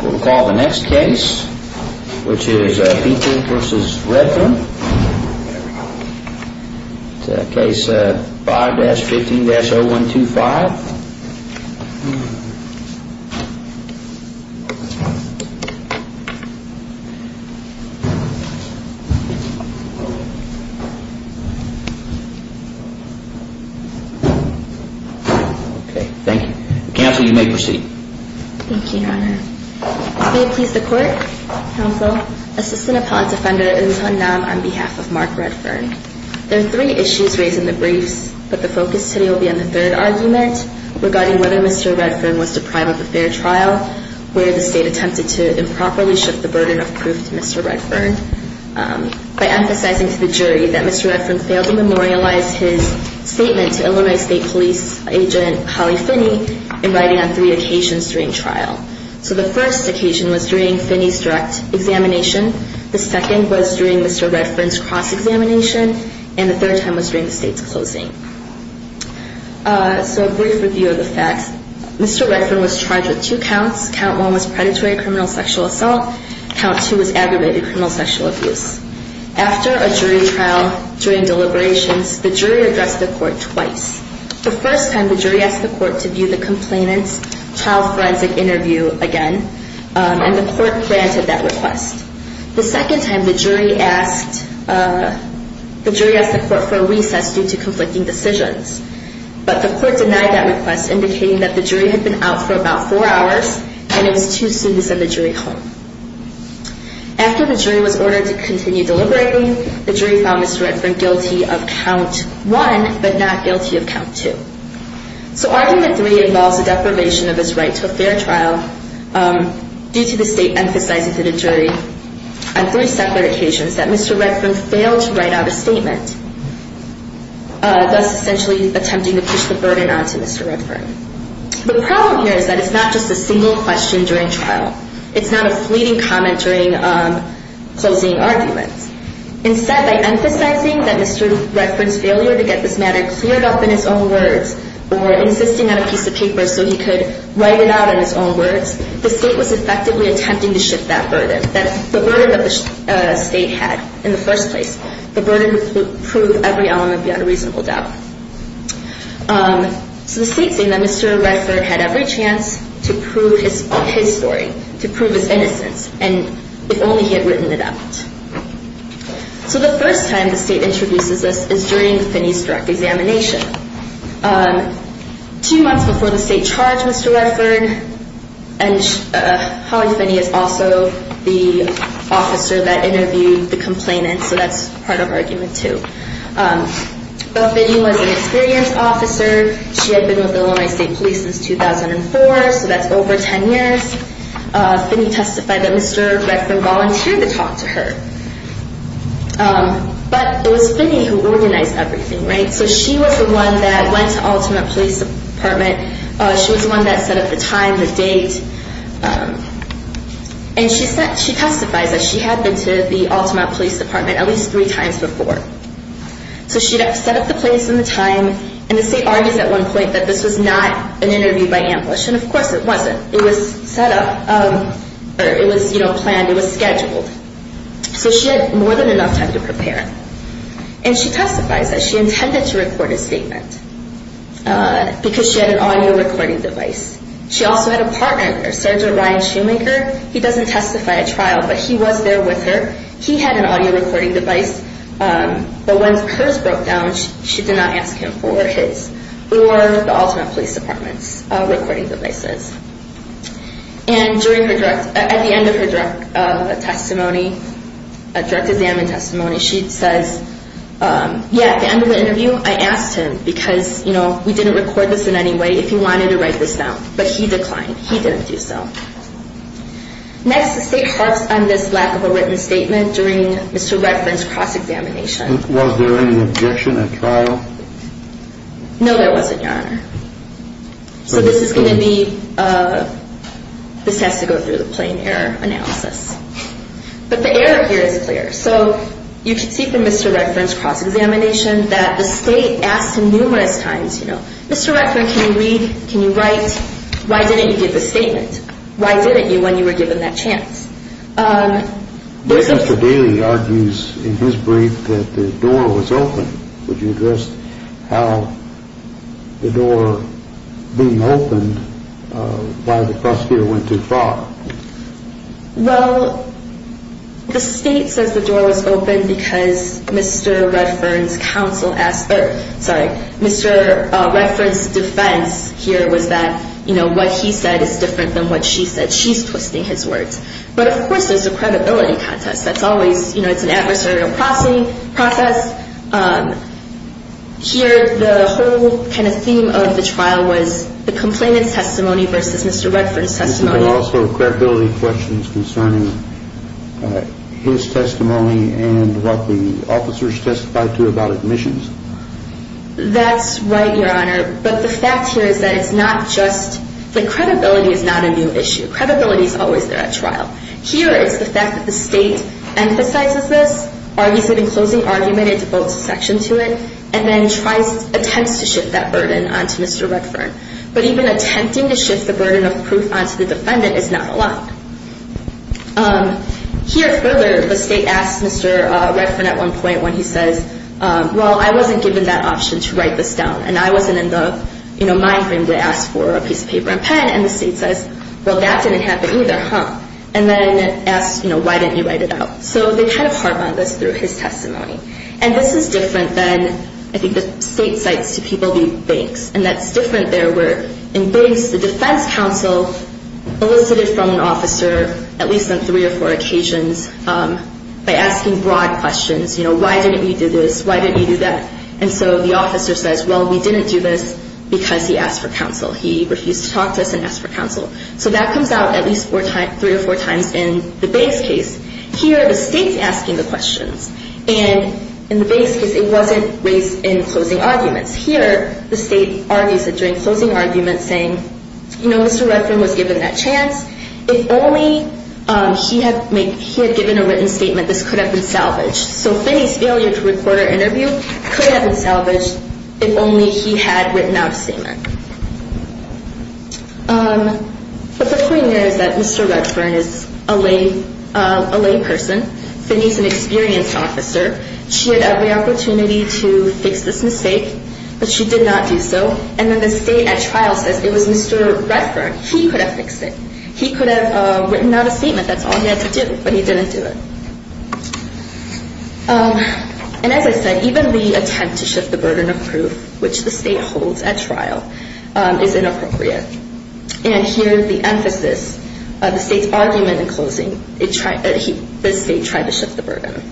We'll call the next case, which is Pinker v. Redfern, case 5-15-0125. May it please the Court, Counsel, Assistant Appellant Defender Il-Hun Nam on behalf of Mark Redfern. There are three issues raised in the briefs, but the focus today will be on the third argument, regarding whether Mr. Redfern was deprived of a fair trial, where the State attempted to improperly shift the burden of proof to Mr. Redfern, by emphasizing to the jury that Mr. Redfern failed to memorialize his statement to Illinois State Police Agent Holly Finney in writing on three occasions during trial. So the first occasion was during Finney's direct examination, the second was during Mr. Redfern's cross-examination, and the third time was during the State's closing. So a brief review of the facts, Mr. Redfern was charged with two counts, count one was predatory criminal sexual assault, count two was aggravated criminal sexual abuse. After a jury trial, during deliberations, the jury addressed the Court twice. The first time, the jury asked the Court to view the complainant's trial forensic interview again, and the Court granted that request. The second time, the jury asked the Court for a recess due to conflicting decisions, but the Court denied that request, indicating that the jury had been out for about four hours, and it was too soon to send the jury home. After the jury was ordered to continue deliberating, the jury found Mr. Redfern guilty of count one, but not guilty of count two. So argument three involves the deprivation of his right to a fair trial, due to the State emphasizing to the jury, on three separate occasions, that Mr. Redfern failed to write out a statement, thus essentially attempting to push the burden onto Mr. Redfern. The problem here is that it's not just a single question during trial. It's not a fleeting comment during closing arguments. Instead, by emphasizing that Mr. Redfern's failure to get this matter cleared up in his own words, or insisting on a piece of paper so he could write it out in his own words, the State was effectively attempting to shift that burden, the burden that the State had in the first place, the burden to prove every element beyond a reasonable doubt. So the State's saying that Mr. Redfern had every chance to prove his story, to prove his innocence, and if only he had written it out. So the first time the State introduces this is during Finney's direct examination. Two months before the State charged Mr. Redfern, and Holly Finney is also the officer that interviewed the complainant, so that's part of argument two. But Finney was an experienced officer. She had been with Illinois State Police since 2004, so that's over 10 years. Finney testified that Mr. Redfern volunteered to talk to her. But it was Finney who organized everything, right? So she was the one that went to Altamont Police Department. She was the one that set up the time, the date. And she testified that she had been to the Altamont Police Department at least three times before. So she'd set up the place and the time, and the State argues at one point that this was not an interview by ambush, and of course it wasn't. It was set up, or it was planned, it was scheduled. So she had more than enough time to prepare. And she testifies that she intended to record a statement because she had an audio recording device. She also had a partner there, Sergeant Ryan Shoemaker. He doesn't testify at trial, but he was there with her. He had an audio recording device, but when hers broke down, she did not ask him for his or the Altamont Police Department's recording devices. And at the end of her direct examination testimony, she says, yeah, at the end of the interview, I asked him, because we didn't record this in any way, if he wanted to write this down. But he declined. He didn't do so. Next, the State parks on this lack of a written statement during Mr. Redfern's cross-examination. Was there any objection at trial? No, there wasn't, Your Honor. So this is going to be, this has to go through the plain error analysis. But the error here is clear. So you can see from Mr. Redfern's cross-examination that the State asked him numerous times, you know, Mr. Redfern, can you read, can you write, why didn't you give the statement? Why didn't you when you were given that chance? But Mr. Daly argues in his brief that the door was open. Would you address how the door being opened by the prosecutor went too far? Well, the State says the door was open because Mr. Redfern's counsel asked, sorry, Mr. Redfern's defense here was that, you know, what he said is different than what she said. She's twisting his words. But, of course, there's a credibility contest. That's always, you know, it's an adversarial processing process. Here, the whole kind of theme of the trial was the complainant's testimony versus Mr. Redfern's testimony. But also credibility questions concerning his testimony and what the officers testified to about admissions. That's right, Your Honor. But the fact here is that it's not just, the credibility is not a new issue. Credibility is always there at trial. Here, it's the fact that the State emphasizes this, argues it in closing argument, it devotes a section to it, and then tries, attempts to shift that burden onto Mr. Redfern. But even attempting to shift the burden of proof onto the defendant is not allowed. Here, further, the State asks Mr. Redfern at one point when he says, well, I wasn't given that option to write this down, and I wasn't in the, you know, mind game to ask for a piece of paper and pen. And the State says, well, that didn't happen either, huh? And then asks, you know, why didn't you write it out? So they kind of harp on this through his testimony. And this is different than, I think, the State cites to people via banks. And that's different there where in banks, the defense counsel elicited from an officer, at least on three or four occasions, by asking broad questions. You know, why didn't you do this? Why didn't you do that? And so the officer says, well, we didn't do this because he asked for counsel. He refused to talk to us and ask for counsel. So that comes out at least three or four times in the base case. Here, the State's asking the questions. And in the base case, it wasn't raised in closing arguments. Here, the State argues that during closing arguments saying, you know, Mr. Redfern was given that chance. If only he had given a written statement, this could have been salvaged. So Finney's failure to record her interview could have been salvaged if only he had written out a statement. But the point here is that Mr. Redfern is a lay person. Finney's an experienced officer. She had every opportunity to fix this mistake, but she did not do so. And then the State at trial says it was Mr. Redfern. He could have fixed it. He could have written out a statement. That's all he had to do, but he didn't do it. And as I said, even the attempt to shift the burden of proof, which the State holds at trial, is inappropriate. And here, the emphasis of the State's argument in closing, the State tried to shift the burden.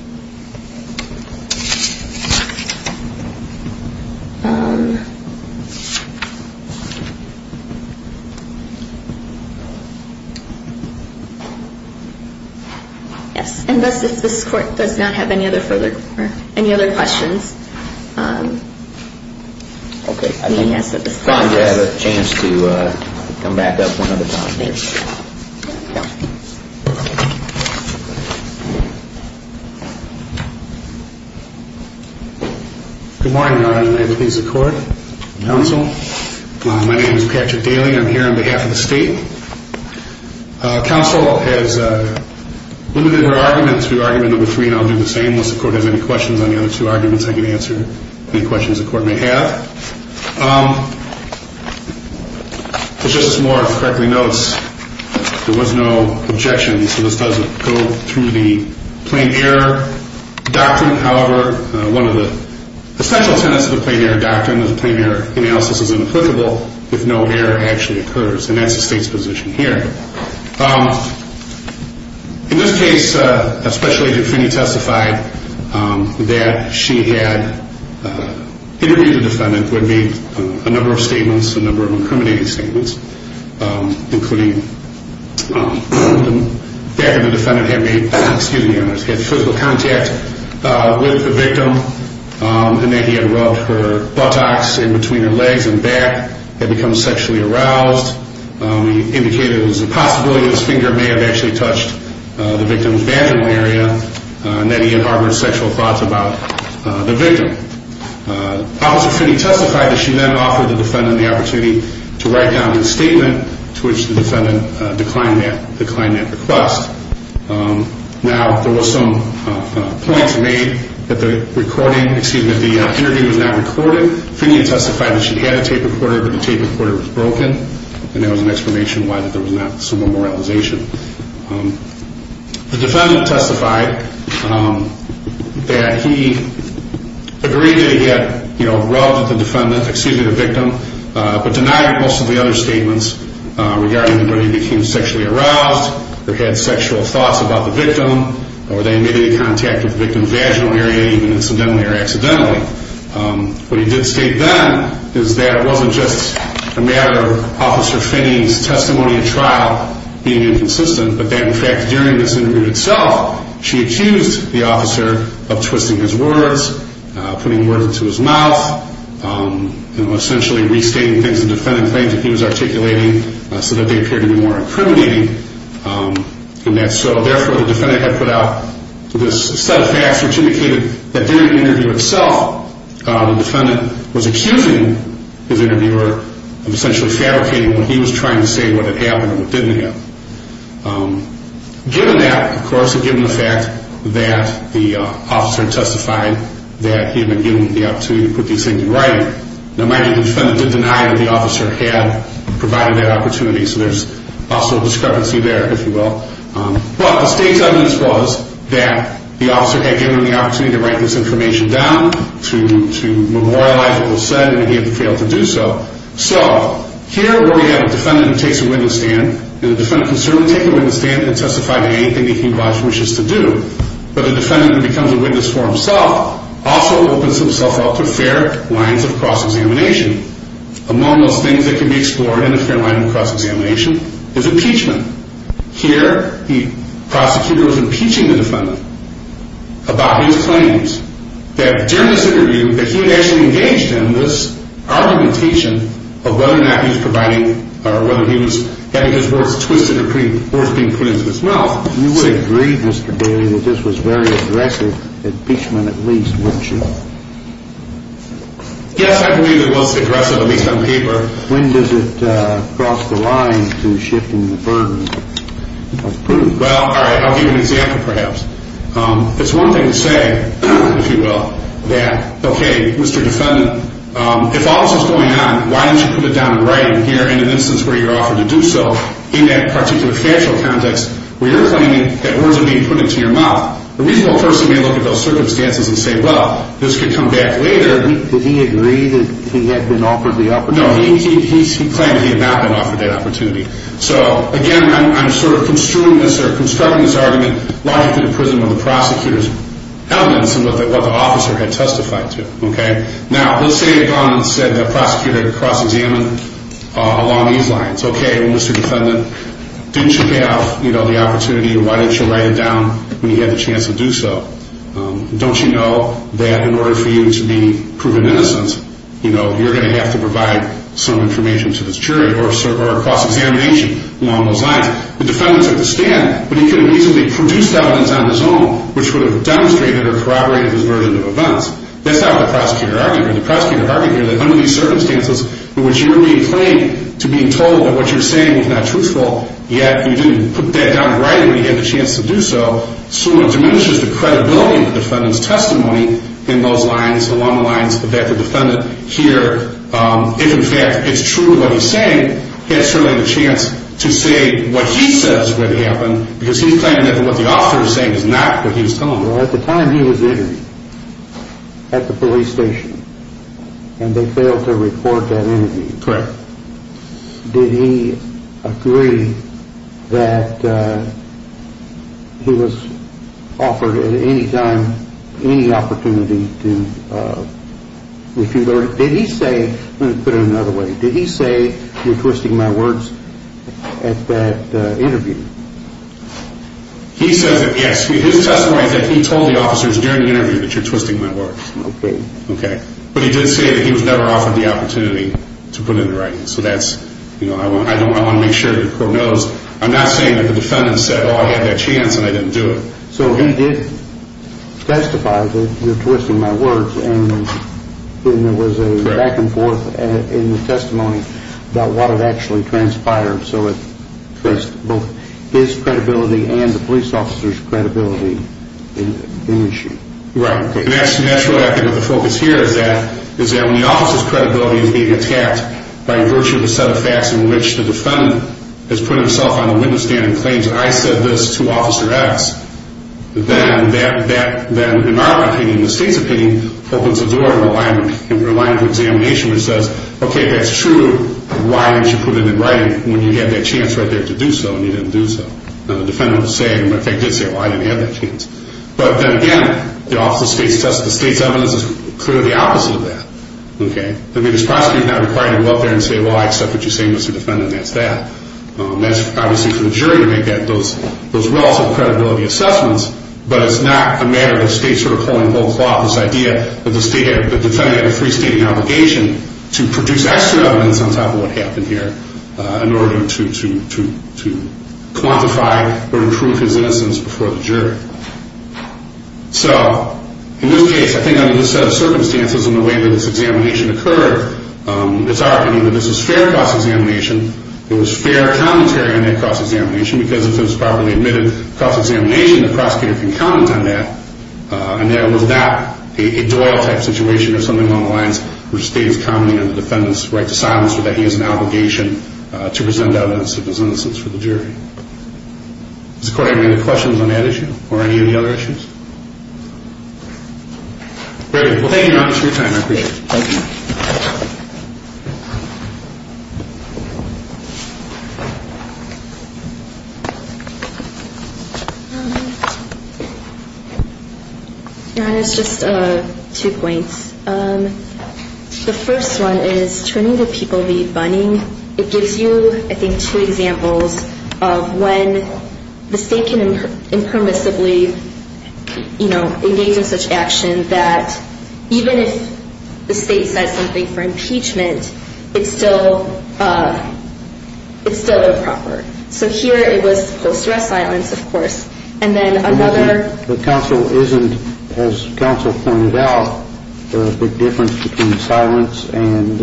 Yes, and thus, if this Court does not have any other further questions, Finney has at this time. I'm going to have a chance to come back up one other time. Thank you. Good morning, Your Honor, and may it please the Court, Counsel. My name is Patrick Daly. I'm here on behalf of the State. Counsel has limited her argument to argument number three, and I'll do the same. Unless the Court has any questions on the other two arguments, I can answer any questions the Court may have. As Justice Moore correctly notes, there was no objection, so this doesn't go through the plain error doctrine. However, one of the essential tenets of the plain error doctrine is plain error analysis is inapplicable if no error actually occurs, and that's the State's position here. In this case, a special agent, Finney, testified that she had interviewed the defendant, would make a number of statements, a number of incriminating statements, including that the defendant had made physical contact with the victim, and that he had rubbed her buttocks in between her legs and back, had become sexually aroused, indicated it was a possibility that his finger may have actually touched the victim's vaginal area, and that he had harbored sexual thoughts about the victim. Officer Finney testified that she then offered the defendant the opportunity to write down a statement, to which the defendant declined that request. Now, there were some points made that the interview was not recorded. Finney testified that she had a tape recorder, but the tape recorder was broken. And that was an explanation why there was not some more moralization. The defendant testified that he agreed that he had rubbed the victim, but denied most of the other statements regarding whether he became sexually aroused, or had sexual thoughts about the victim, or that he made any contact with the victim's vaginal area, even incidentally or accidentally. What he did state then is that it wasn't just a matter of Officer Finney's testimony at trial being inconsistent, but that, in fact, during this interview itself, she accused the officer of twisting his words, putting words into his mouth, essentially restating things the defendant claimed that he was articulating, so that they appeared to be more incriminating. Therefore, the defendant had put out this set of facts which indicated that during the interview itself, the defendant was accusing his interviewer of essentially fabricating what he was trying to say, what had happened and what didn't happen. Given that, of course, and given the fact that the officer testified that he had been given the opportunity to put these things in writing, it might be that the defendant did deny that the officer had provided that opportunity. So there's also a discrepancy there, if you will. But the state's evidence was that the officer had given him the opportunity to write this information down, to memorialize what was said, and he had failed to do so. So here we have a defendant who takes a witness stand, and the defendant can certainly take a witness stand and testify to anything that he wishes to do. But a defendant who becomes a witness for himself also opens himself up to fair lines of cross-examination. Among those things that can be explored in a fair line of cross-examination is impeachment. Here, the prosecutor was impeaching the defendant about his claims, that during this interview, that he had actually engaged in this argumentation of whether or not he was providing or whether he was having his words twisted or words being put into his mouth. You would agree, Mr. Daly, that this was very aggressive impeachment at least, wouldn't you? Yes, I believe it was aggressive, at least on paper. When does it cross the line to shifting the burden of proof? Well, all right, I'll give you an example, perhaps. It's one thing to say, if you will, that, okay, Mr. Defendant, if all this is going on, why don't you put it down in writing here in an instance where you're offered to do so, in that particular factual context where you're claiming that words are being put into your mouth. A reasonable person may look at those circumstances and say, well, this could come back later. Did he agree that he had been offered the opportunity? No, he claimed he had not been offered that opportunity. So, again, I'm sort of construing this or constructing this argument logically to the prism of the prosecutor's evidence and what the officer had testified to, okay? Now, let's say a prosecutor had cross-examined along these lines. Okay, well, Mr. Defendant, didn't you have the opportunity, or why didn't you write it down when you had the chance to do so? Don't you know that in order for you to be proven innocent, you know, you're going to have to provide some information to this jury or a cross-examination along those lines? The defendant took the stand, but he could have reasonably produced evidence on his own which would have demonstrated or corroborated his burden of offense. That's not what the prosecutor argued here. The prosecutor argued here that under these circumstances in which you're being claimed to being told that what you're saying is not truthful, yet you didn't put that down right when you had the chance to do so, so it diminishes the credibility of the defendant's testimony in those lines, along the lines that the defendant here, if in fact it's true what he's saying, had certainly the chance to say what he says would happen because he's claiming that what the officer is saying is not what he was telling him. Well, at the time he was interviewed at the police station and they failed to report that interview, Correct. Did he agree that he was offered at any time any opportunity to, if you learn, did he say, let me put it another way, did he say you're twisting my words at that interview? He says that, yes, his testimony is that he told the officers during the interview that you're twisting my words. Okay. But he did say that he was never offered the opportunity to put it in writing, so that's, you know, I want to make sure that the court knows. I'm not saying that the defendant said, oh, I had that chance and I didn't do it. So he did testify that you're twisting my words and there was a back and forth in the testimony about what had actually transpired, so it increased both his credibility and the police officer's credibility in the issue. Right. And that's really, I think, what the focus here is that when the officer's credibility is being attacked by virtue of a set of facts in which the defendant has put himself on the window stand and claims I said this to Officer X, then that, in our opinion, in the state's opinion, opens a door in the line of examination which says, okay, that's true, why didn't you put it in writing when you had that chance right there to do so and you didn't do so. Now, the defendant was saying, in fact, did say, well, I didn't have that chance. But then again, the state's evidence is clearly the opposite of that. Okay. I mean, this prosecutor is not required to go up there and say, well, I accept what you're saying, Mr. Defendant, and that's that. That's obviously for the jury to make those relative credibility assessments, but it's not a matter of the state sort of pulling the whole cloth, this idea that the defendant had a free-stating obligation to produce extra evidence on top of what happened here in order to quantify or prove his innocence before the jury. So in this case, I think under this set of circumstances and the way that this examination occurred, it's our opinion that this was fair cross-examination. It was fair commentary on that cross-examination because if it was properly admitted cross-examination, the prosecutor can comment on that, and that it was not a Doyle-type situation or something along the lines where the state is commenting on the defendant's right to silence or that he has an obligation to present evidence of his innocence for the jury. Does the Court have any other questions on that issue or any of the other issues? Very good. Well, thank you, Your Honor, for your time. I appreciate it. Thank you. Your Honor, it's just two points. The first one is turning the people to be bunnying. It gives you, I think, two examples of when the state can impermissibly, you know, engage in such action that even if the state says, you know, if the state says something for impeachment, it's still improper. So here it was post-dress silence, of course. And then another — But counsel isn't, as counsel pointed out, a big difference between silence and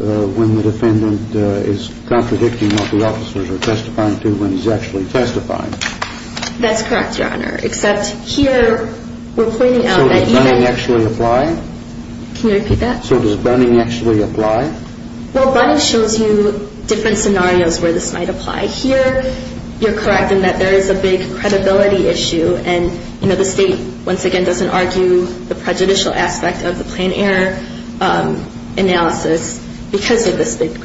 when the defendant is contradicting what the officers are testifying to when he's actually testifying. That's correct, Your Honor, except here we're pointing out that even — So does bunnying actually apply? Well, bunnying shows you different scenarios where this might apply. Here, you're correct in that there is a big credibility issue. And, you know, the state, once again, doesn't argue the prejudicial aspect of the planned error analysis because of this big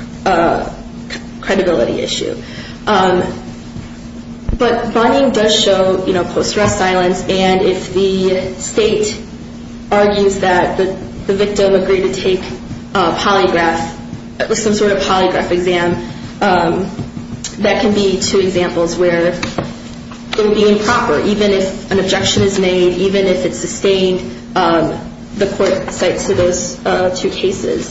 credibility issue. But bunnying does show, you know, post-dress silence. And if the state argues that the victim agreed to take a polygraph — some sort of polygraph exam, that can be two examples where it would be improper, even if an objection is made, even if it's sustained, the court cites to those two cases.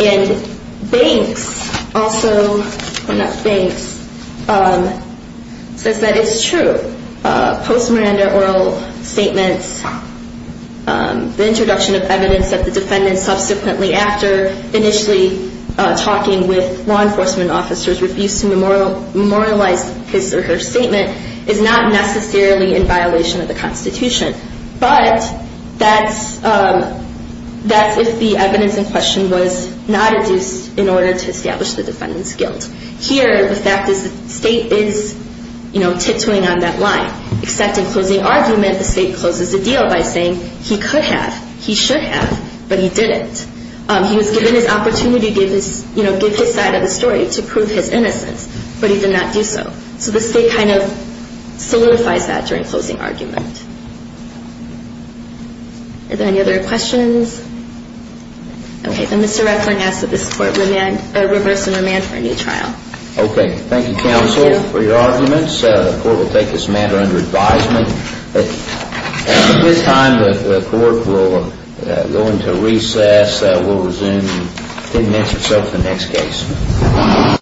And Banks also — oh, not Banks — says that it's true. Post-Miranda oral statements, the introduction of evidence that the defendant subsequently, after initially talking with law enforcement officers, refused to memorialize his or her statement is not necessarily in violation of the Constitution. But that's if the evidence in question was not adduced in order to establish the defendant's guilt. Here, the fact is the state is, you know, titoing on that line. Except in closing argument, the state closes the deal by saying he could have, he should have, but he didn't. He was given his opportunity to give his side of the story to prove his innocence, but he did not do so. So the state kind of solidifies that during closing argument. Are there any other questions? Okay. And Mr. Radford asks that this Court reverse and remand for a new trial. Okay. Thank you, counsel, for your arguments. The Court will take this matter under advisement. At this time, the Court will go into recess. We'll resume and then answer the next case.